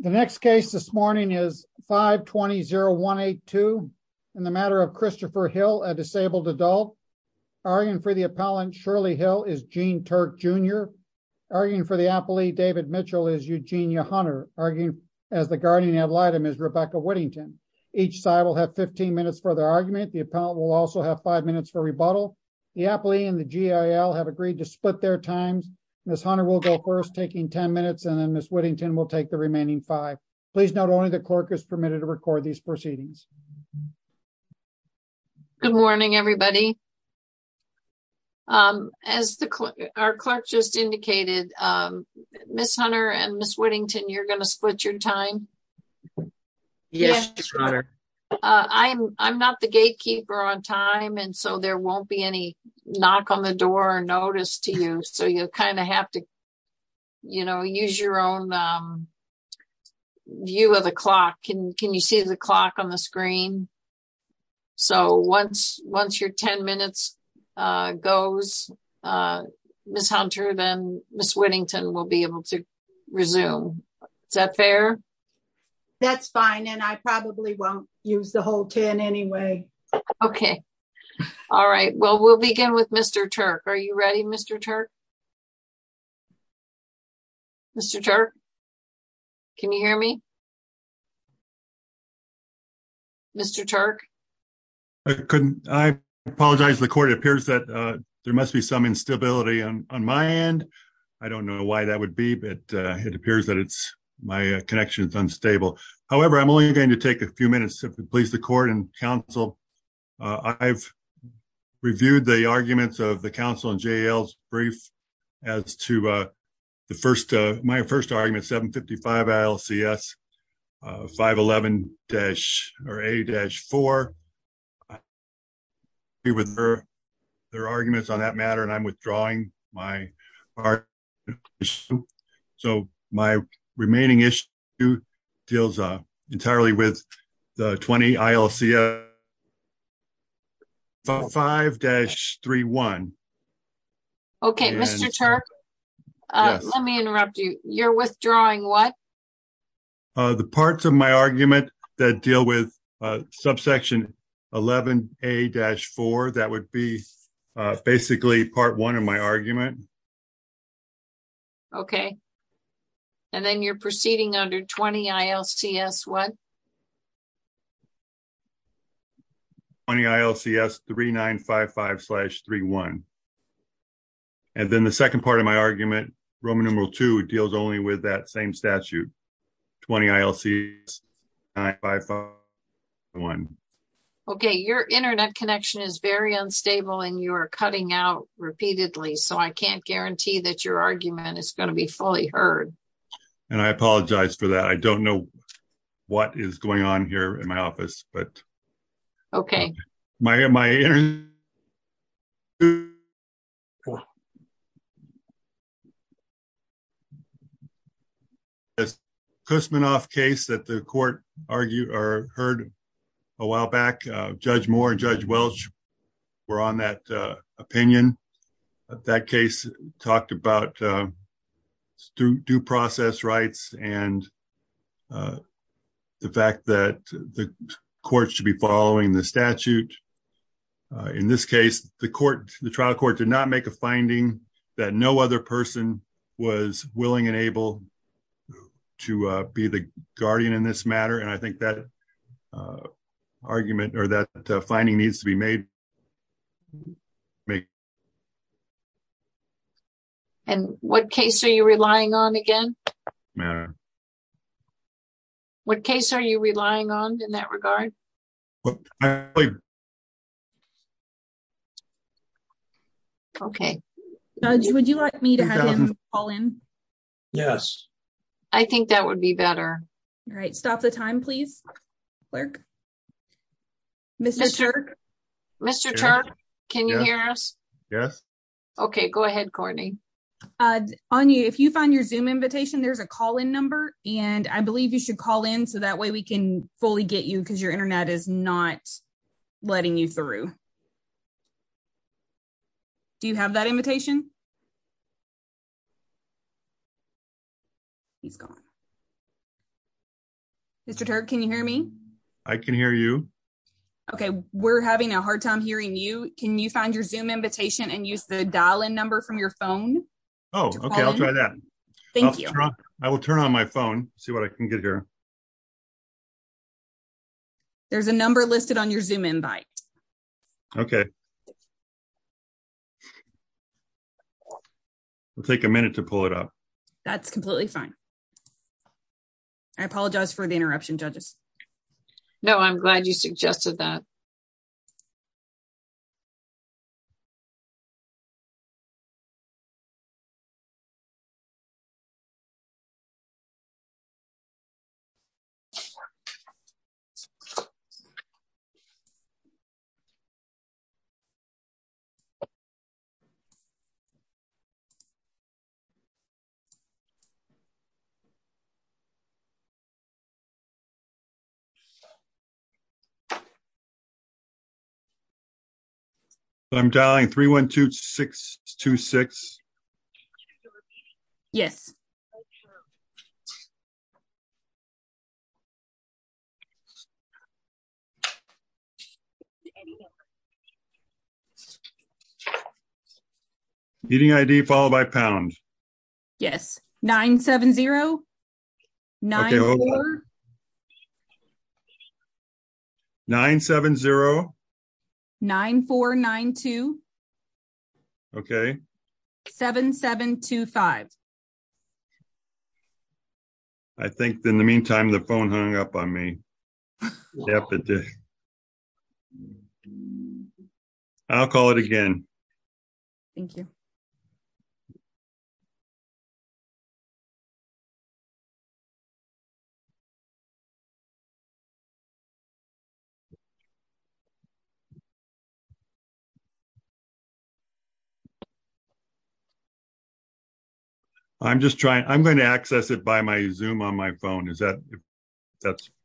The next case this morning is 520-0182 in the matter of Christopher Hill, a disabled adult. Arguing for the appellant, Shirley Hill, is Gene Turk Jr. Arguing for the appellee, David Mitchell, is Eugenia Hunter. Arguing as the guardian ad litem is Rebecca Whittington. Each side will have 15 minutes for their argument. The appellant will also have five minutes for rebuttal. The appellee and the GIL have agreed to split their times. Ms. Hunter will go first, and then Ms. Whittington will take the remaining five. Please note, only the clerk is permitted to record these proceedings. Ms. Hunter Good morning, everybody. As our clerk just indicated, Ms. Hunter and Ms. Whittington, you're going to split your time? Ms. Whittington Yes, your honor. Ms. Hunter I'm not the gatekeeper on time, so there won't be any knock on the door or notice to you. So you'll kind of have to use your own view of the clock. Can you see the clock on the screen? So once your 10 minutes goes, Ms. Hunter, then Ms. Whittington will be able to resume. Is that fair? Ms. Whittington That's fine, and I probably won't use the whole 10 anyway. Ms. Hunter Okay. All right. Well, we'll begin with Mr. Turk. Are you ready, Mr. Turk? Mr. Turk? Can you hear me? Mr. Turk? Mr. Turk I apologize. The court appears that there must be some instability on my end. I don't know why that would be, but it appears that my connection is unstable. However, I'm only going to take a few minutes to please the court and counsel. I've reviewed the arguments of the counsel in J.L.'s brief as to my first argument, 755 ILCS 511-A-4. I agree with their arguments on that matter, and I'm withdrawing my argument. So my remaining issue deals entirely with the 20 ILCS 511-A-5-3-1. Okay, Mr. Turk, let me interrupt you. You're withdrawing what? The parts of my argument that deal with subsection 11-A-4, that would be basically part one of my argument. Okay, and then you're proceeding under 20 ILCS what? 20 ILCS 3955-3-1. And then the second part of my argument, Roman numeral II, deals only with that same statute, 20 ILCS 511-A-5-3-1. Okay, your internet connection is very unstable, and you're cutting out repeatedly. So I can't guarantee that your argument is going to be fully heard. And I apologize for that. I don't know what is going on here in my office, but... Okay. The Kusmanoff case that the court heard a while back, Judge Moore and Judge Welch were on that opinion. That case talked about due process rights and the fact that the court should be following the statute. In this case, the trial court did not make a finding that no other person was willing and able to be the guardian in this matter. And I think that argument or that finding needs to be made. And what case are you relying on again? What case are you relying on in that regard? Judge, would you like me to have him call in? Yes. I think that would be better. All right. Stop the time, please. Clerk? Mr. Turk? Mr. Turk, can you hear us? Yes. Okay. Go ahead, Courtney. Anya, if you find your Zoom invitation, there's a call-in number. And I believe you should call in so that way we can fully get you because your internet is not letting you through. Do you have that invitation? He's gone. Mr. Turk, can you hear me? I can hear you. Okay. We're having a hard time hearing you. Can you find your Zoom invitation and use the dial-in number from your phone? Oh, okay. I'll try that. I will turn on my phone, see what I can get here. Okay. There's a number listed on your Zoom invite. Okay. It'll take a minute to pull it up. That's completely fine. I apologize for the interruption, judges. No, I'm glad you suggested that. Okay. So, I'm dialing 312-626. Yes. Okay. Meeting ID followed by pound. Yes. 970-9492. Okay. Hold on. 970-9492. Okay. 7725. I think, in the meantime, the phone hung up on me. I'll call it again. Thank you. I'm just trying. I'm going to access it by my Zoom on my phone.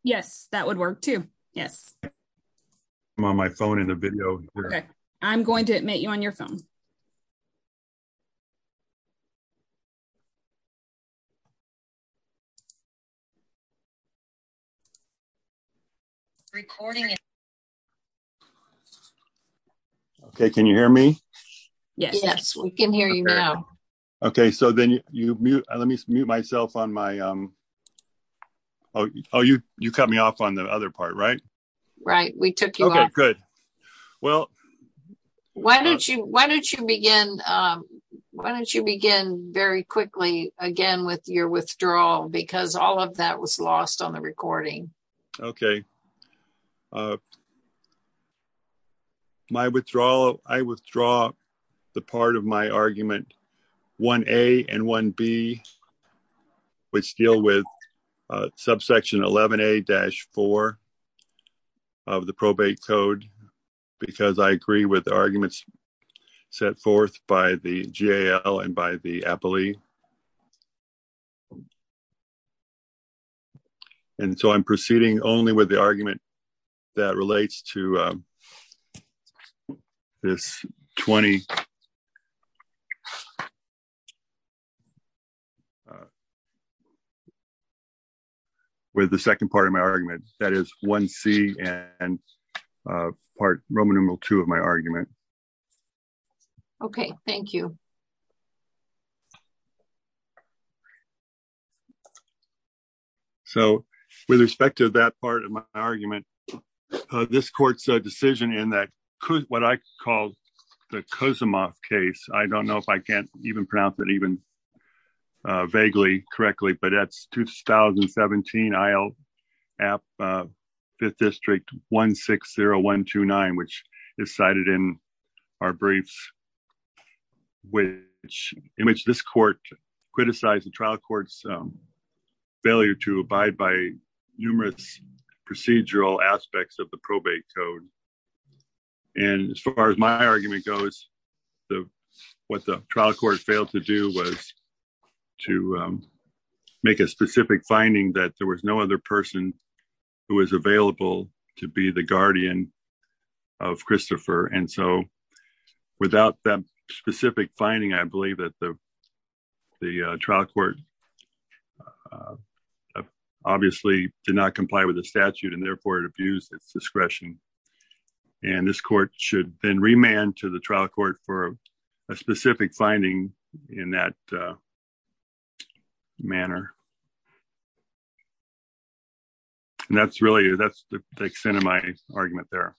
Yes, that would work, too. Yes. I'm on my phone in the video. Okay. I'm going to admit you on your phone. Recording. Okay. Can you hear me? Yes, we can hear you now. Okay. So, then you mute. Let me mute myself on my... Oh, you cut me off on the other part, right? Right. We took you off. Okay, good. Well... Why don't you begin very quickly again with your withdrawal? Because all of that was lost on the recording. Okay. So, my withdrawal... I withdraw the part of my argument 1A and 1B, which deal with subsection 11A-4 of the probate code, because I agree with the arguments set forth by the GAL and by the appellee. And so, I'm proceeding only with the argument that relates to this 20... with the second part of my argument, that is 1C and part Roman numeral 2 of my argument. Okay. Thank you. So, with respect to that part of my argument, this court's decision in that could... what I call the Kozumov case. I don't know if I can't even pronounce it even vaguely correctly, but that's 2017, I'll app 5th District 160129, which is cited in our briefs. In which this court criticized the trial court's failure to abide by numerous procedural aspects of the probate code. And as far as my argument goes, what the trial court failed to do was to make a specific finding that there was no other person And so, without that specific finding, I believe that the trial court obviously did not comply with the statute and therefore it abused its discretion. And this court should then remand to the trial court for a specific finding in that manner. And that's really... that's the extent of my argument there.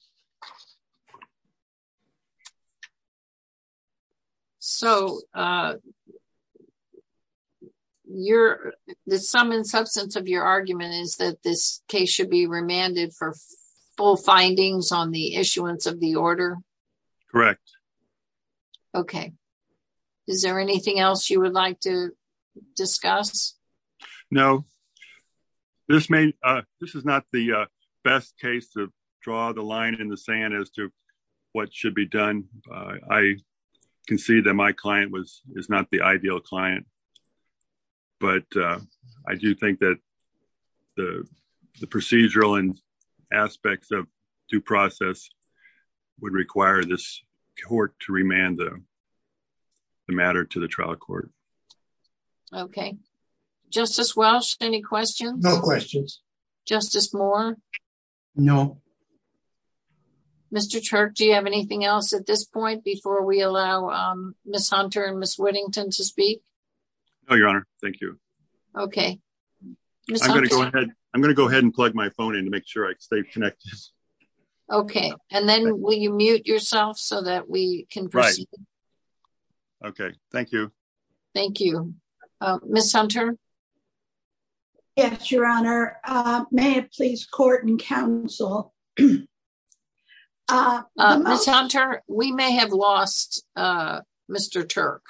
So, the sum and substance of your argument is that this case should be remanded for full findings on the issuance of the order? Correct. Okay. Is there anything else you would like to discuss? No. This is not the best case to draw the line in the sand as to what should be done. I can see that my client is not the ideal client, but I do think that the procedural and aspects of due process would require this court to remand the matter to the trial court. Okay. Justice Welch, any questions? No questions. Justice Moore? No. Mr. Turk, do you have anything else at this point before we allow Ms. Hunter and Ms. Whittington to speak? No, Your Honor. Thank you. Okay. I'm going to go ahead and plug my phone in to make sure I stay connected. Okay. And then will you mute yourself so that we can proceed? Right. Okay. Thank you. Thank you. Ms. Hunter? Yes, Your Honor. May I please court and counsel? Ms. Hunter, we may have lost Mr. Turk.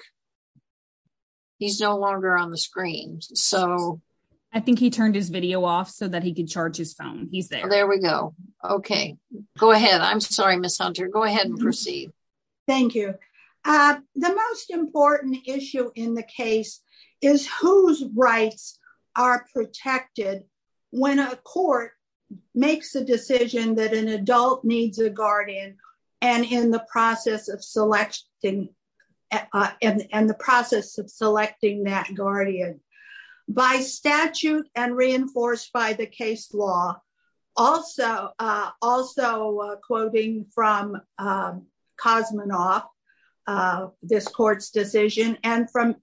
He's no longer on the screen. I think he turned his video off so that he could charge his phone. He's there. There we go. Okay. Go ahead. I'm sorry, Ms. Hunter. Go ahead and proceed. Thank you. The most important issue in the case is whose rights are protected when a court makes a decision that an adult needs a guardian and in the process of selecting and the process of selecting that guardian by statute and reinforced by the case law. Also, quoting from Kosmanoff, this court's decision and from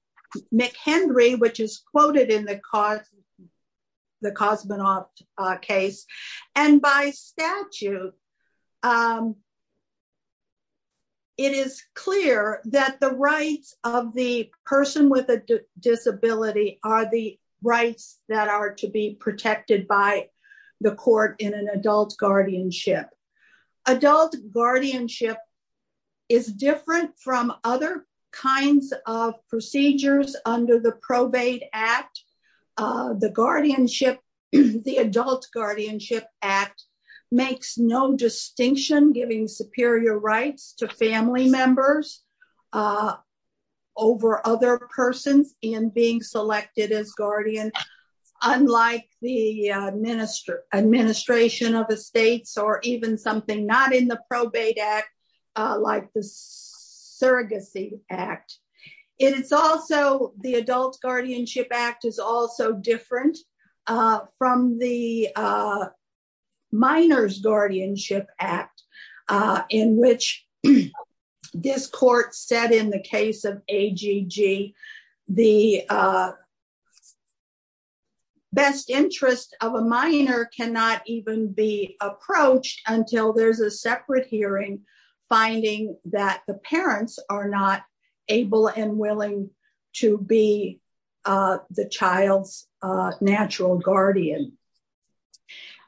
McHenry, which is quoted in the Kosmanoff case and by statute. It is clear that the rights of the person with a disability are the rights that are to be protected by the court in an adult guardianship. Adult guardianship is different from other kinds of procedures under the probate act. The guardianship, the adult guardianship act makes no distinction giving superior rights to family members over other persons in being selected as guardian, unlike the administration of estates or even something not in the probate act like the surrogacy act. The adult guardianship act is also different from the minors guardianship act in which this court said in the case of AGG, the best interest of a minor cannot even be approached until there's a separate hearing finding that the parents are not able and willing to be the child's natural guardian.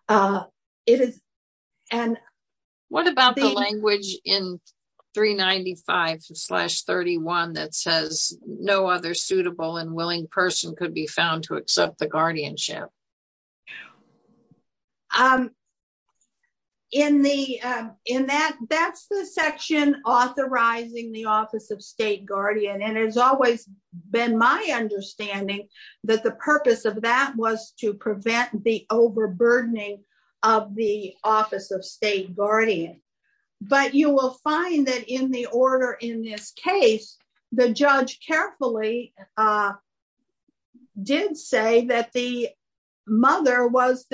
What about the language in 395-31 that says no other suitable and willing person could be found to accept the guardianship? That's the section authorizing the office of state guardian and it's been my understanding that the purpose of that was to prevent the overburdening of the office of state guardian. But you will find that in the order in this case, the judge carefully did say that the mother was,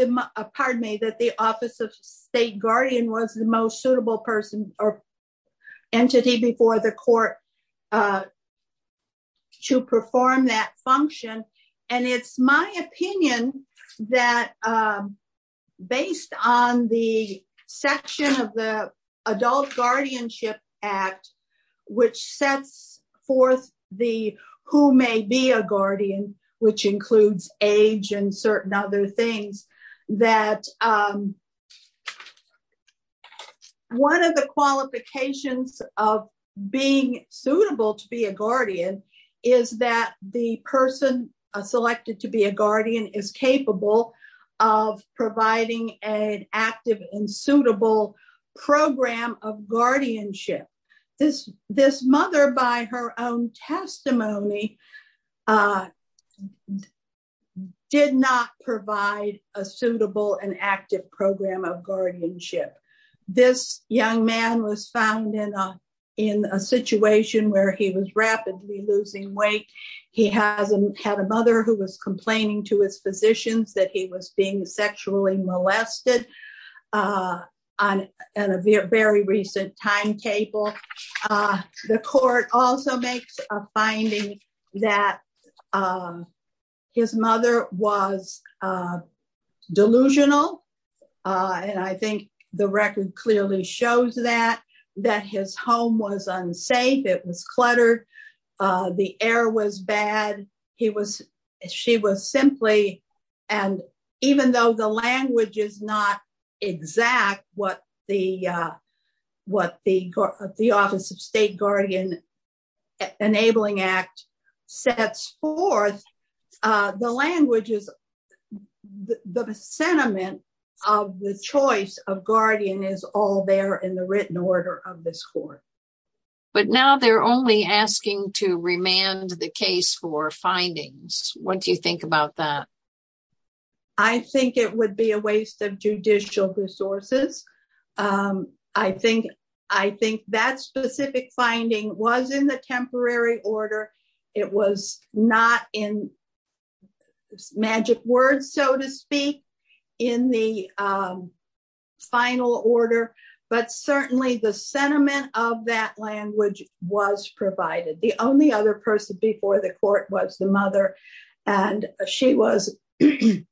pardon me, that the office of state guardian was the most suitable person or entity before the court to perform that function. And it's my opinion that based on the section of the adult guardianship act, which sets forth the who may be a guardian, which includes age and certain other things, that one of the qualifications of being suitable to be a guardian is that the person selected to be a guardian is capable of providing an active and did not provide a suitable and active program of guardianship. This young man was found in a situation where he was rapidly losing weight. He had a mother who was complaining to his physicians that he was being sexually molested on a very recent timetable. The court also makes a finding that his mother was delusional. And I think the record clearly shows that, that his home was unsafe. It was cluttered. The air was bad. He was, she was simply, and even though the language is exact, what the office of state guardian enabling act sets forth, the language is, the sentiment of the choice of guardian is all there in the written order of this court. But now they're only asking to remand the case for findings. What do you think about that? I think it would be a waste of judicial resources. I think, I think that specific finding was in the temporary order. It was not in magic words, so to speak, in the final order, but certainly the sentiment of that language was provided. The only other person before the court was the mother, and she was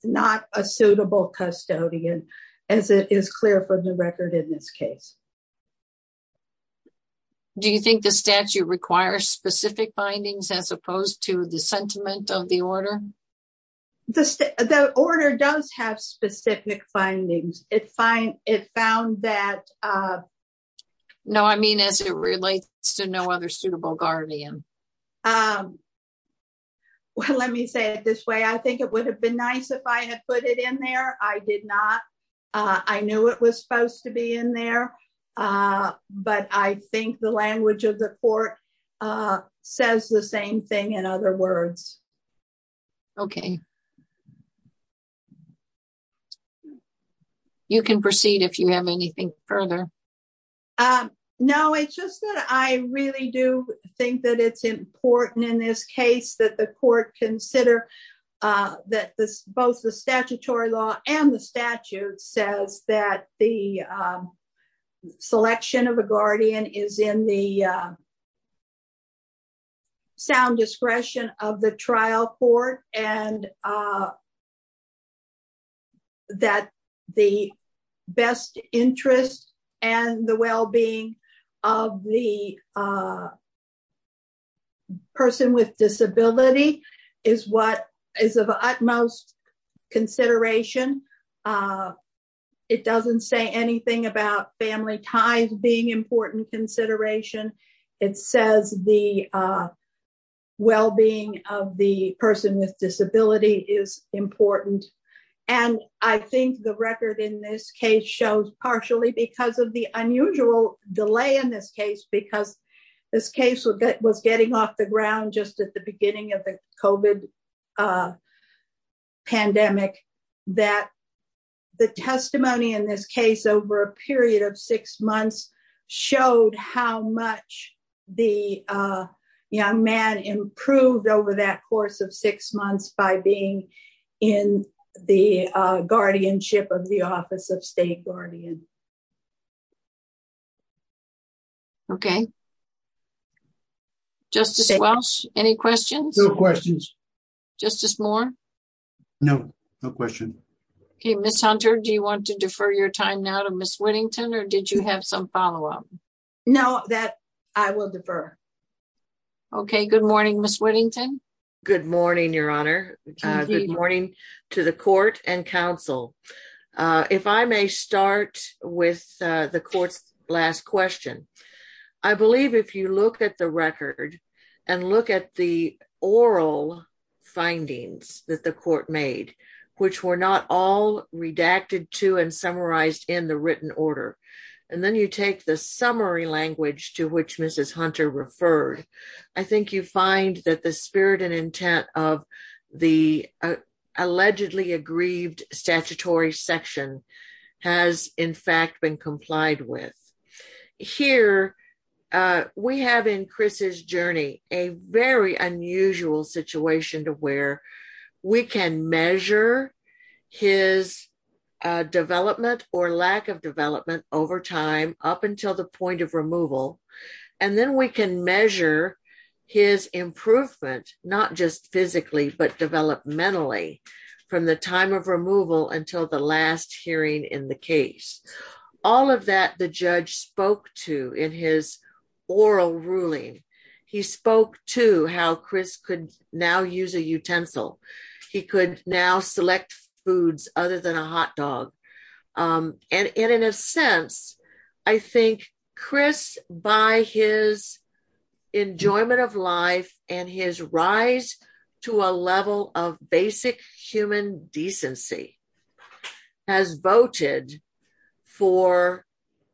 not a suitable custodian, as it is clear from the record in this case. Do you think the statute requires specific findings as opposed to the sentiment of the order? The order does have specific findings. It found that... No, I mean as it relates to no other suitable guardian. Well, let me say it this way. I think it would have been nice if I had put it in there. I did not. I knew it was supposed to be in there, but I think the language of the court says the same thing in other words. Okay. You can proceed if you have anything further. No, it's just that I really do think that it's important in this case that the court consider that both the statutory law and the statute says that the selection of a guardian is in the sound discretion of the trial court and that the best interest and the well-being of the person with disability is of utmost consideration. It doesn't say anything about family ties being with the person with disability is important. I think the record in this case shows partially because of the unusual delay in this case, because this case was getting off the ground just at the beginning of the COVID pandemic that the testimony in this case over a period of six months by being in the guardianship of the office of state guardian. Okay. Justice Welch, any questions? No questions. Justice Moore? No, no question. Okay. Ms. Hunter, do you want to defer your time now to Ms. Whittington or did you have some your honor? Good morning to the court and counsel. If I may start with the court's last question, I believe if you look at the record and look at the oral findings that the court made, which were not all redacted to and summarized in the written order, and then you take the summary language to which Mrs. Hunter referred, I think you find that the spirit and intent of the allegedly aggrieved statutory section has in fact been complied with. Here we have in Chris's journey a very unusual situation to where we can measure his development or lack of development over time up until the point of removal and then we can measure his improvement not just physically but developmentally from the time of removal until the last hearing in the case. All of that the judge spoke to in his oral ruling. He spoke to how Chris could now use a utensil. He could now select foods other than a hot dog and in a sense I think Chris by his enjoyment of life and his rise to a level of basic human decency has voted for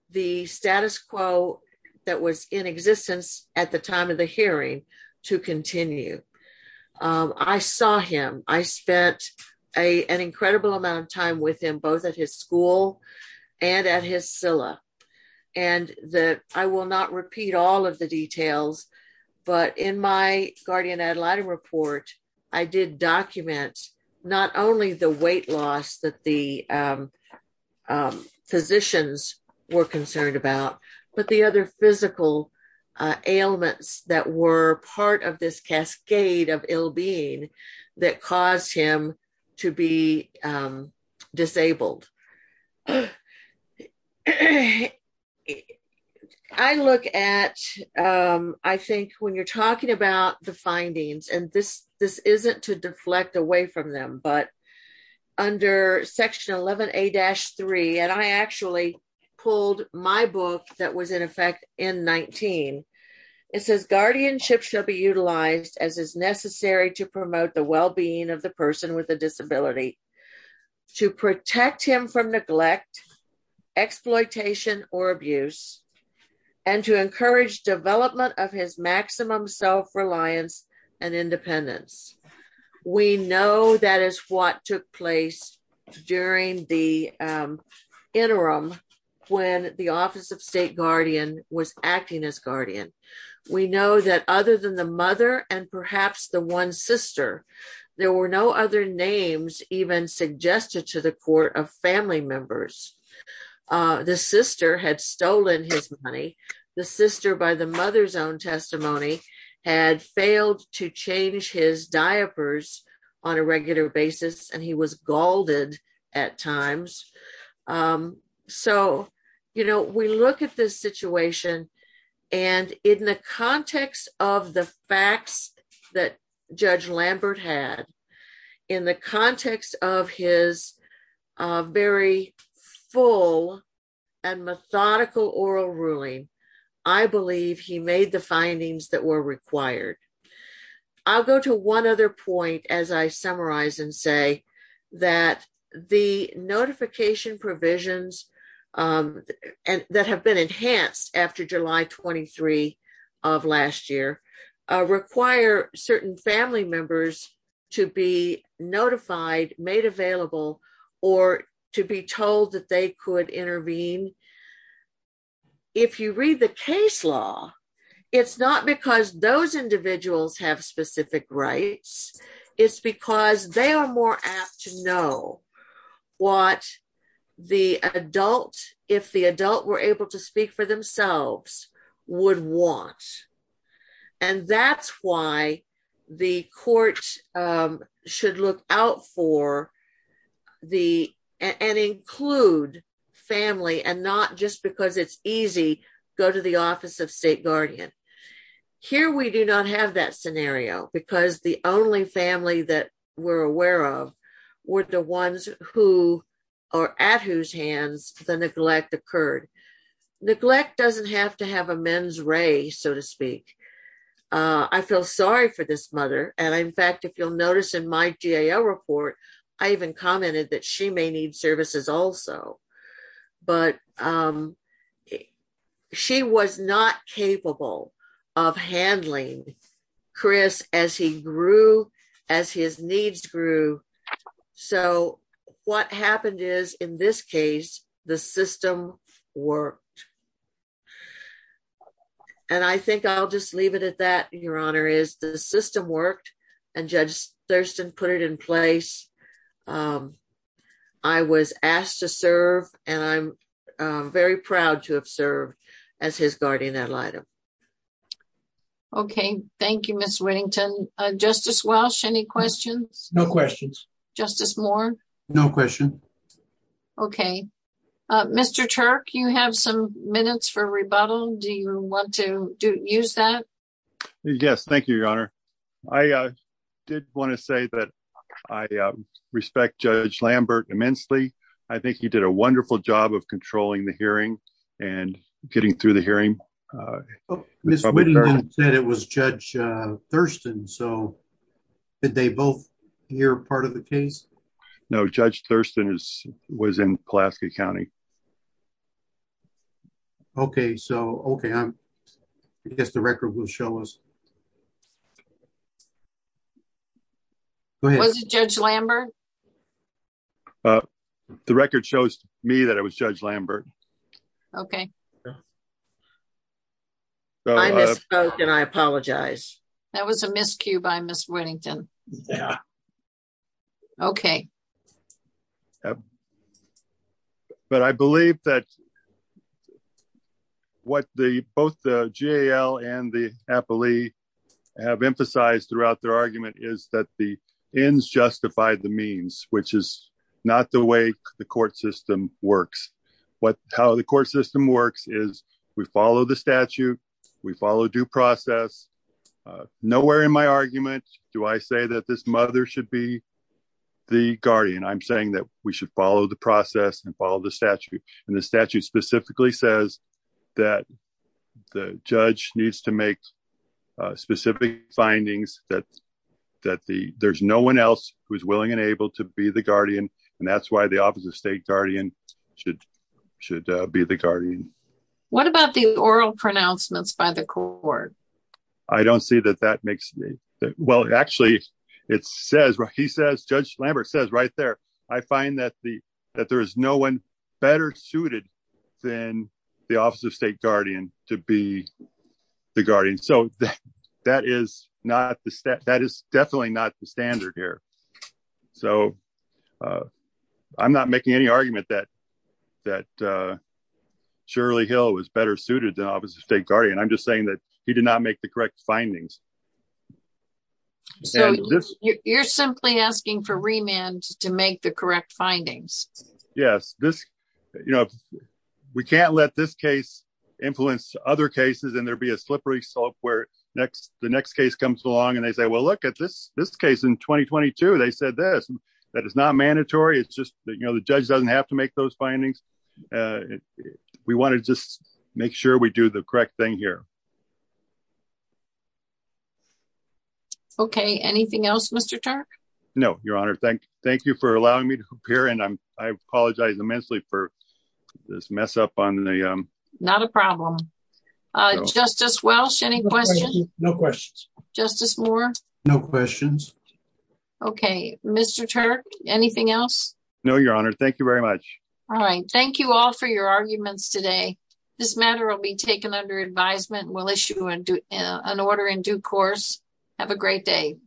the status quo that was in existence at the time of the hearing to continue. I saw him. I spent an incredible amount of time with him both at his school and at his SILA and that I will not repeat all of the details but in my guardian ad litem report I did document not only the weight physical ailments that were part of this cascade of ill-being that caused him to be disabled. I look at I think when you're talking about the findings and this isn't to deflect away from them but under section 11a-3 and I actually pulled my book that was in effect in 19. It says guardianship shall be utilized as is necessary to promote the well-being of the person with a disability to protect him from neglect exploitation or abuse and to encourage development of his what took place during the interim when the office of state guardian was acting as guardian. We know that other than the mother and perhaps the one sister there were no other names even suggested to the court of family members. The sister had stolen his money. The sister by the and he was galled at times. So you know we look at this situation and in the context of the facts that Judge Lambert had in the context of his very full and methodical oral ruling I believe he made the findings that were required. I'll go to one other point as I summarize and say that the notification provisions and that have been enhanced after July 23 of last year require certain family members to be notified made available or to be told that they could intervene if you read the case law it's not because those individuals have specific rights it's because they are more apt to know what the adult if the adult were able to speak for themselves would want and that's why the court should look out for the and include family and not just because it's easy go to the office of state guardian. Here we do not have that scenario because the only family that we're aware of were the ones who are at whose hands the neglect occurred. Neglect doesn't have to have a men's race so to speak. I feel sorry for this mother and in fact if you'll notice in my GAO report I even commented that she may need services also but she was not capable of handling Chris as he grew as his needs grew. So what happened is in this case the system worked and I think I'll just leave it at that your honor is the system worked and Judge Thurston put it in place. I was asked to serve and I'm very proud to have served as his guardian ad litem. Okay Justice Moore? No question. Okay Mr. Turk you have some minutes for rebuttal do you want to use that? Yes thank you your honor. I did want to say that I respect Judge Lambert immensely. I think he did a wonderful job of controlling the hearing and getting through the hearing. Ms. Whittington said it was Judge Thurston so did they both hear part of the case? No Judge Thurston was in Pulaski County. Okay so okay I guess the record will show us. Was it Judge Lambert? The record shows me that it was Judge Lambert. Okay. I misspoke and I apologize. That was a miscue by Ms. Whittington. Yeah okay. But I believe that what the both the GAL and the appellee have emphasized throughout their argument is that the ends justify the means which is not the way the court system works. What how the court system works is we follow the statute. We follow due process. Nowhere in my argument do I say that this mother should be the guardian. I'm saying that we should follow the process and follow the statute and the statute specifically says that the judge needs to make specific findings that that the there's no one else who's willing and able to be the guardian and that's why the office of state guardian should should be the guardian. What about the oral pronouncements by the court? I don't see that that makes me well actually it says right he says Judge Lambert says right there I find that the that there is no one better suited than the office of state guardian to be the guardian so that that is not the step that is definitely not the standard here. So I'm not making any argument that that Shirley Hill was better suited than office of state guardian. I'm just saying that he did not make the correct findings. So you're simply asking for remand to make the correct findings. Yes this you know we can't let this case influence other cases and there'll be a slippery slope where next the next case comes along and they say well look at this this case in 2022 they said this that is not mandatory it's just that you know the judge doesn't have to make those findings. We want to just make sure we do the correct thing here. Okay anything else Mr. Turk? No your honor thank thank you for allowing me to appear and I'm I apologize immensely for this mess up on the um. Not a problem uh Justice Welsh any questions? No questions. Justice Moore? No questions. Okay Mr. Turk anything else? No your honor thank you very much. All right thank you all for your arguments today. This matter will be taken under advisement we'll issue and do an order in due course. Have a great day.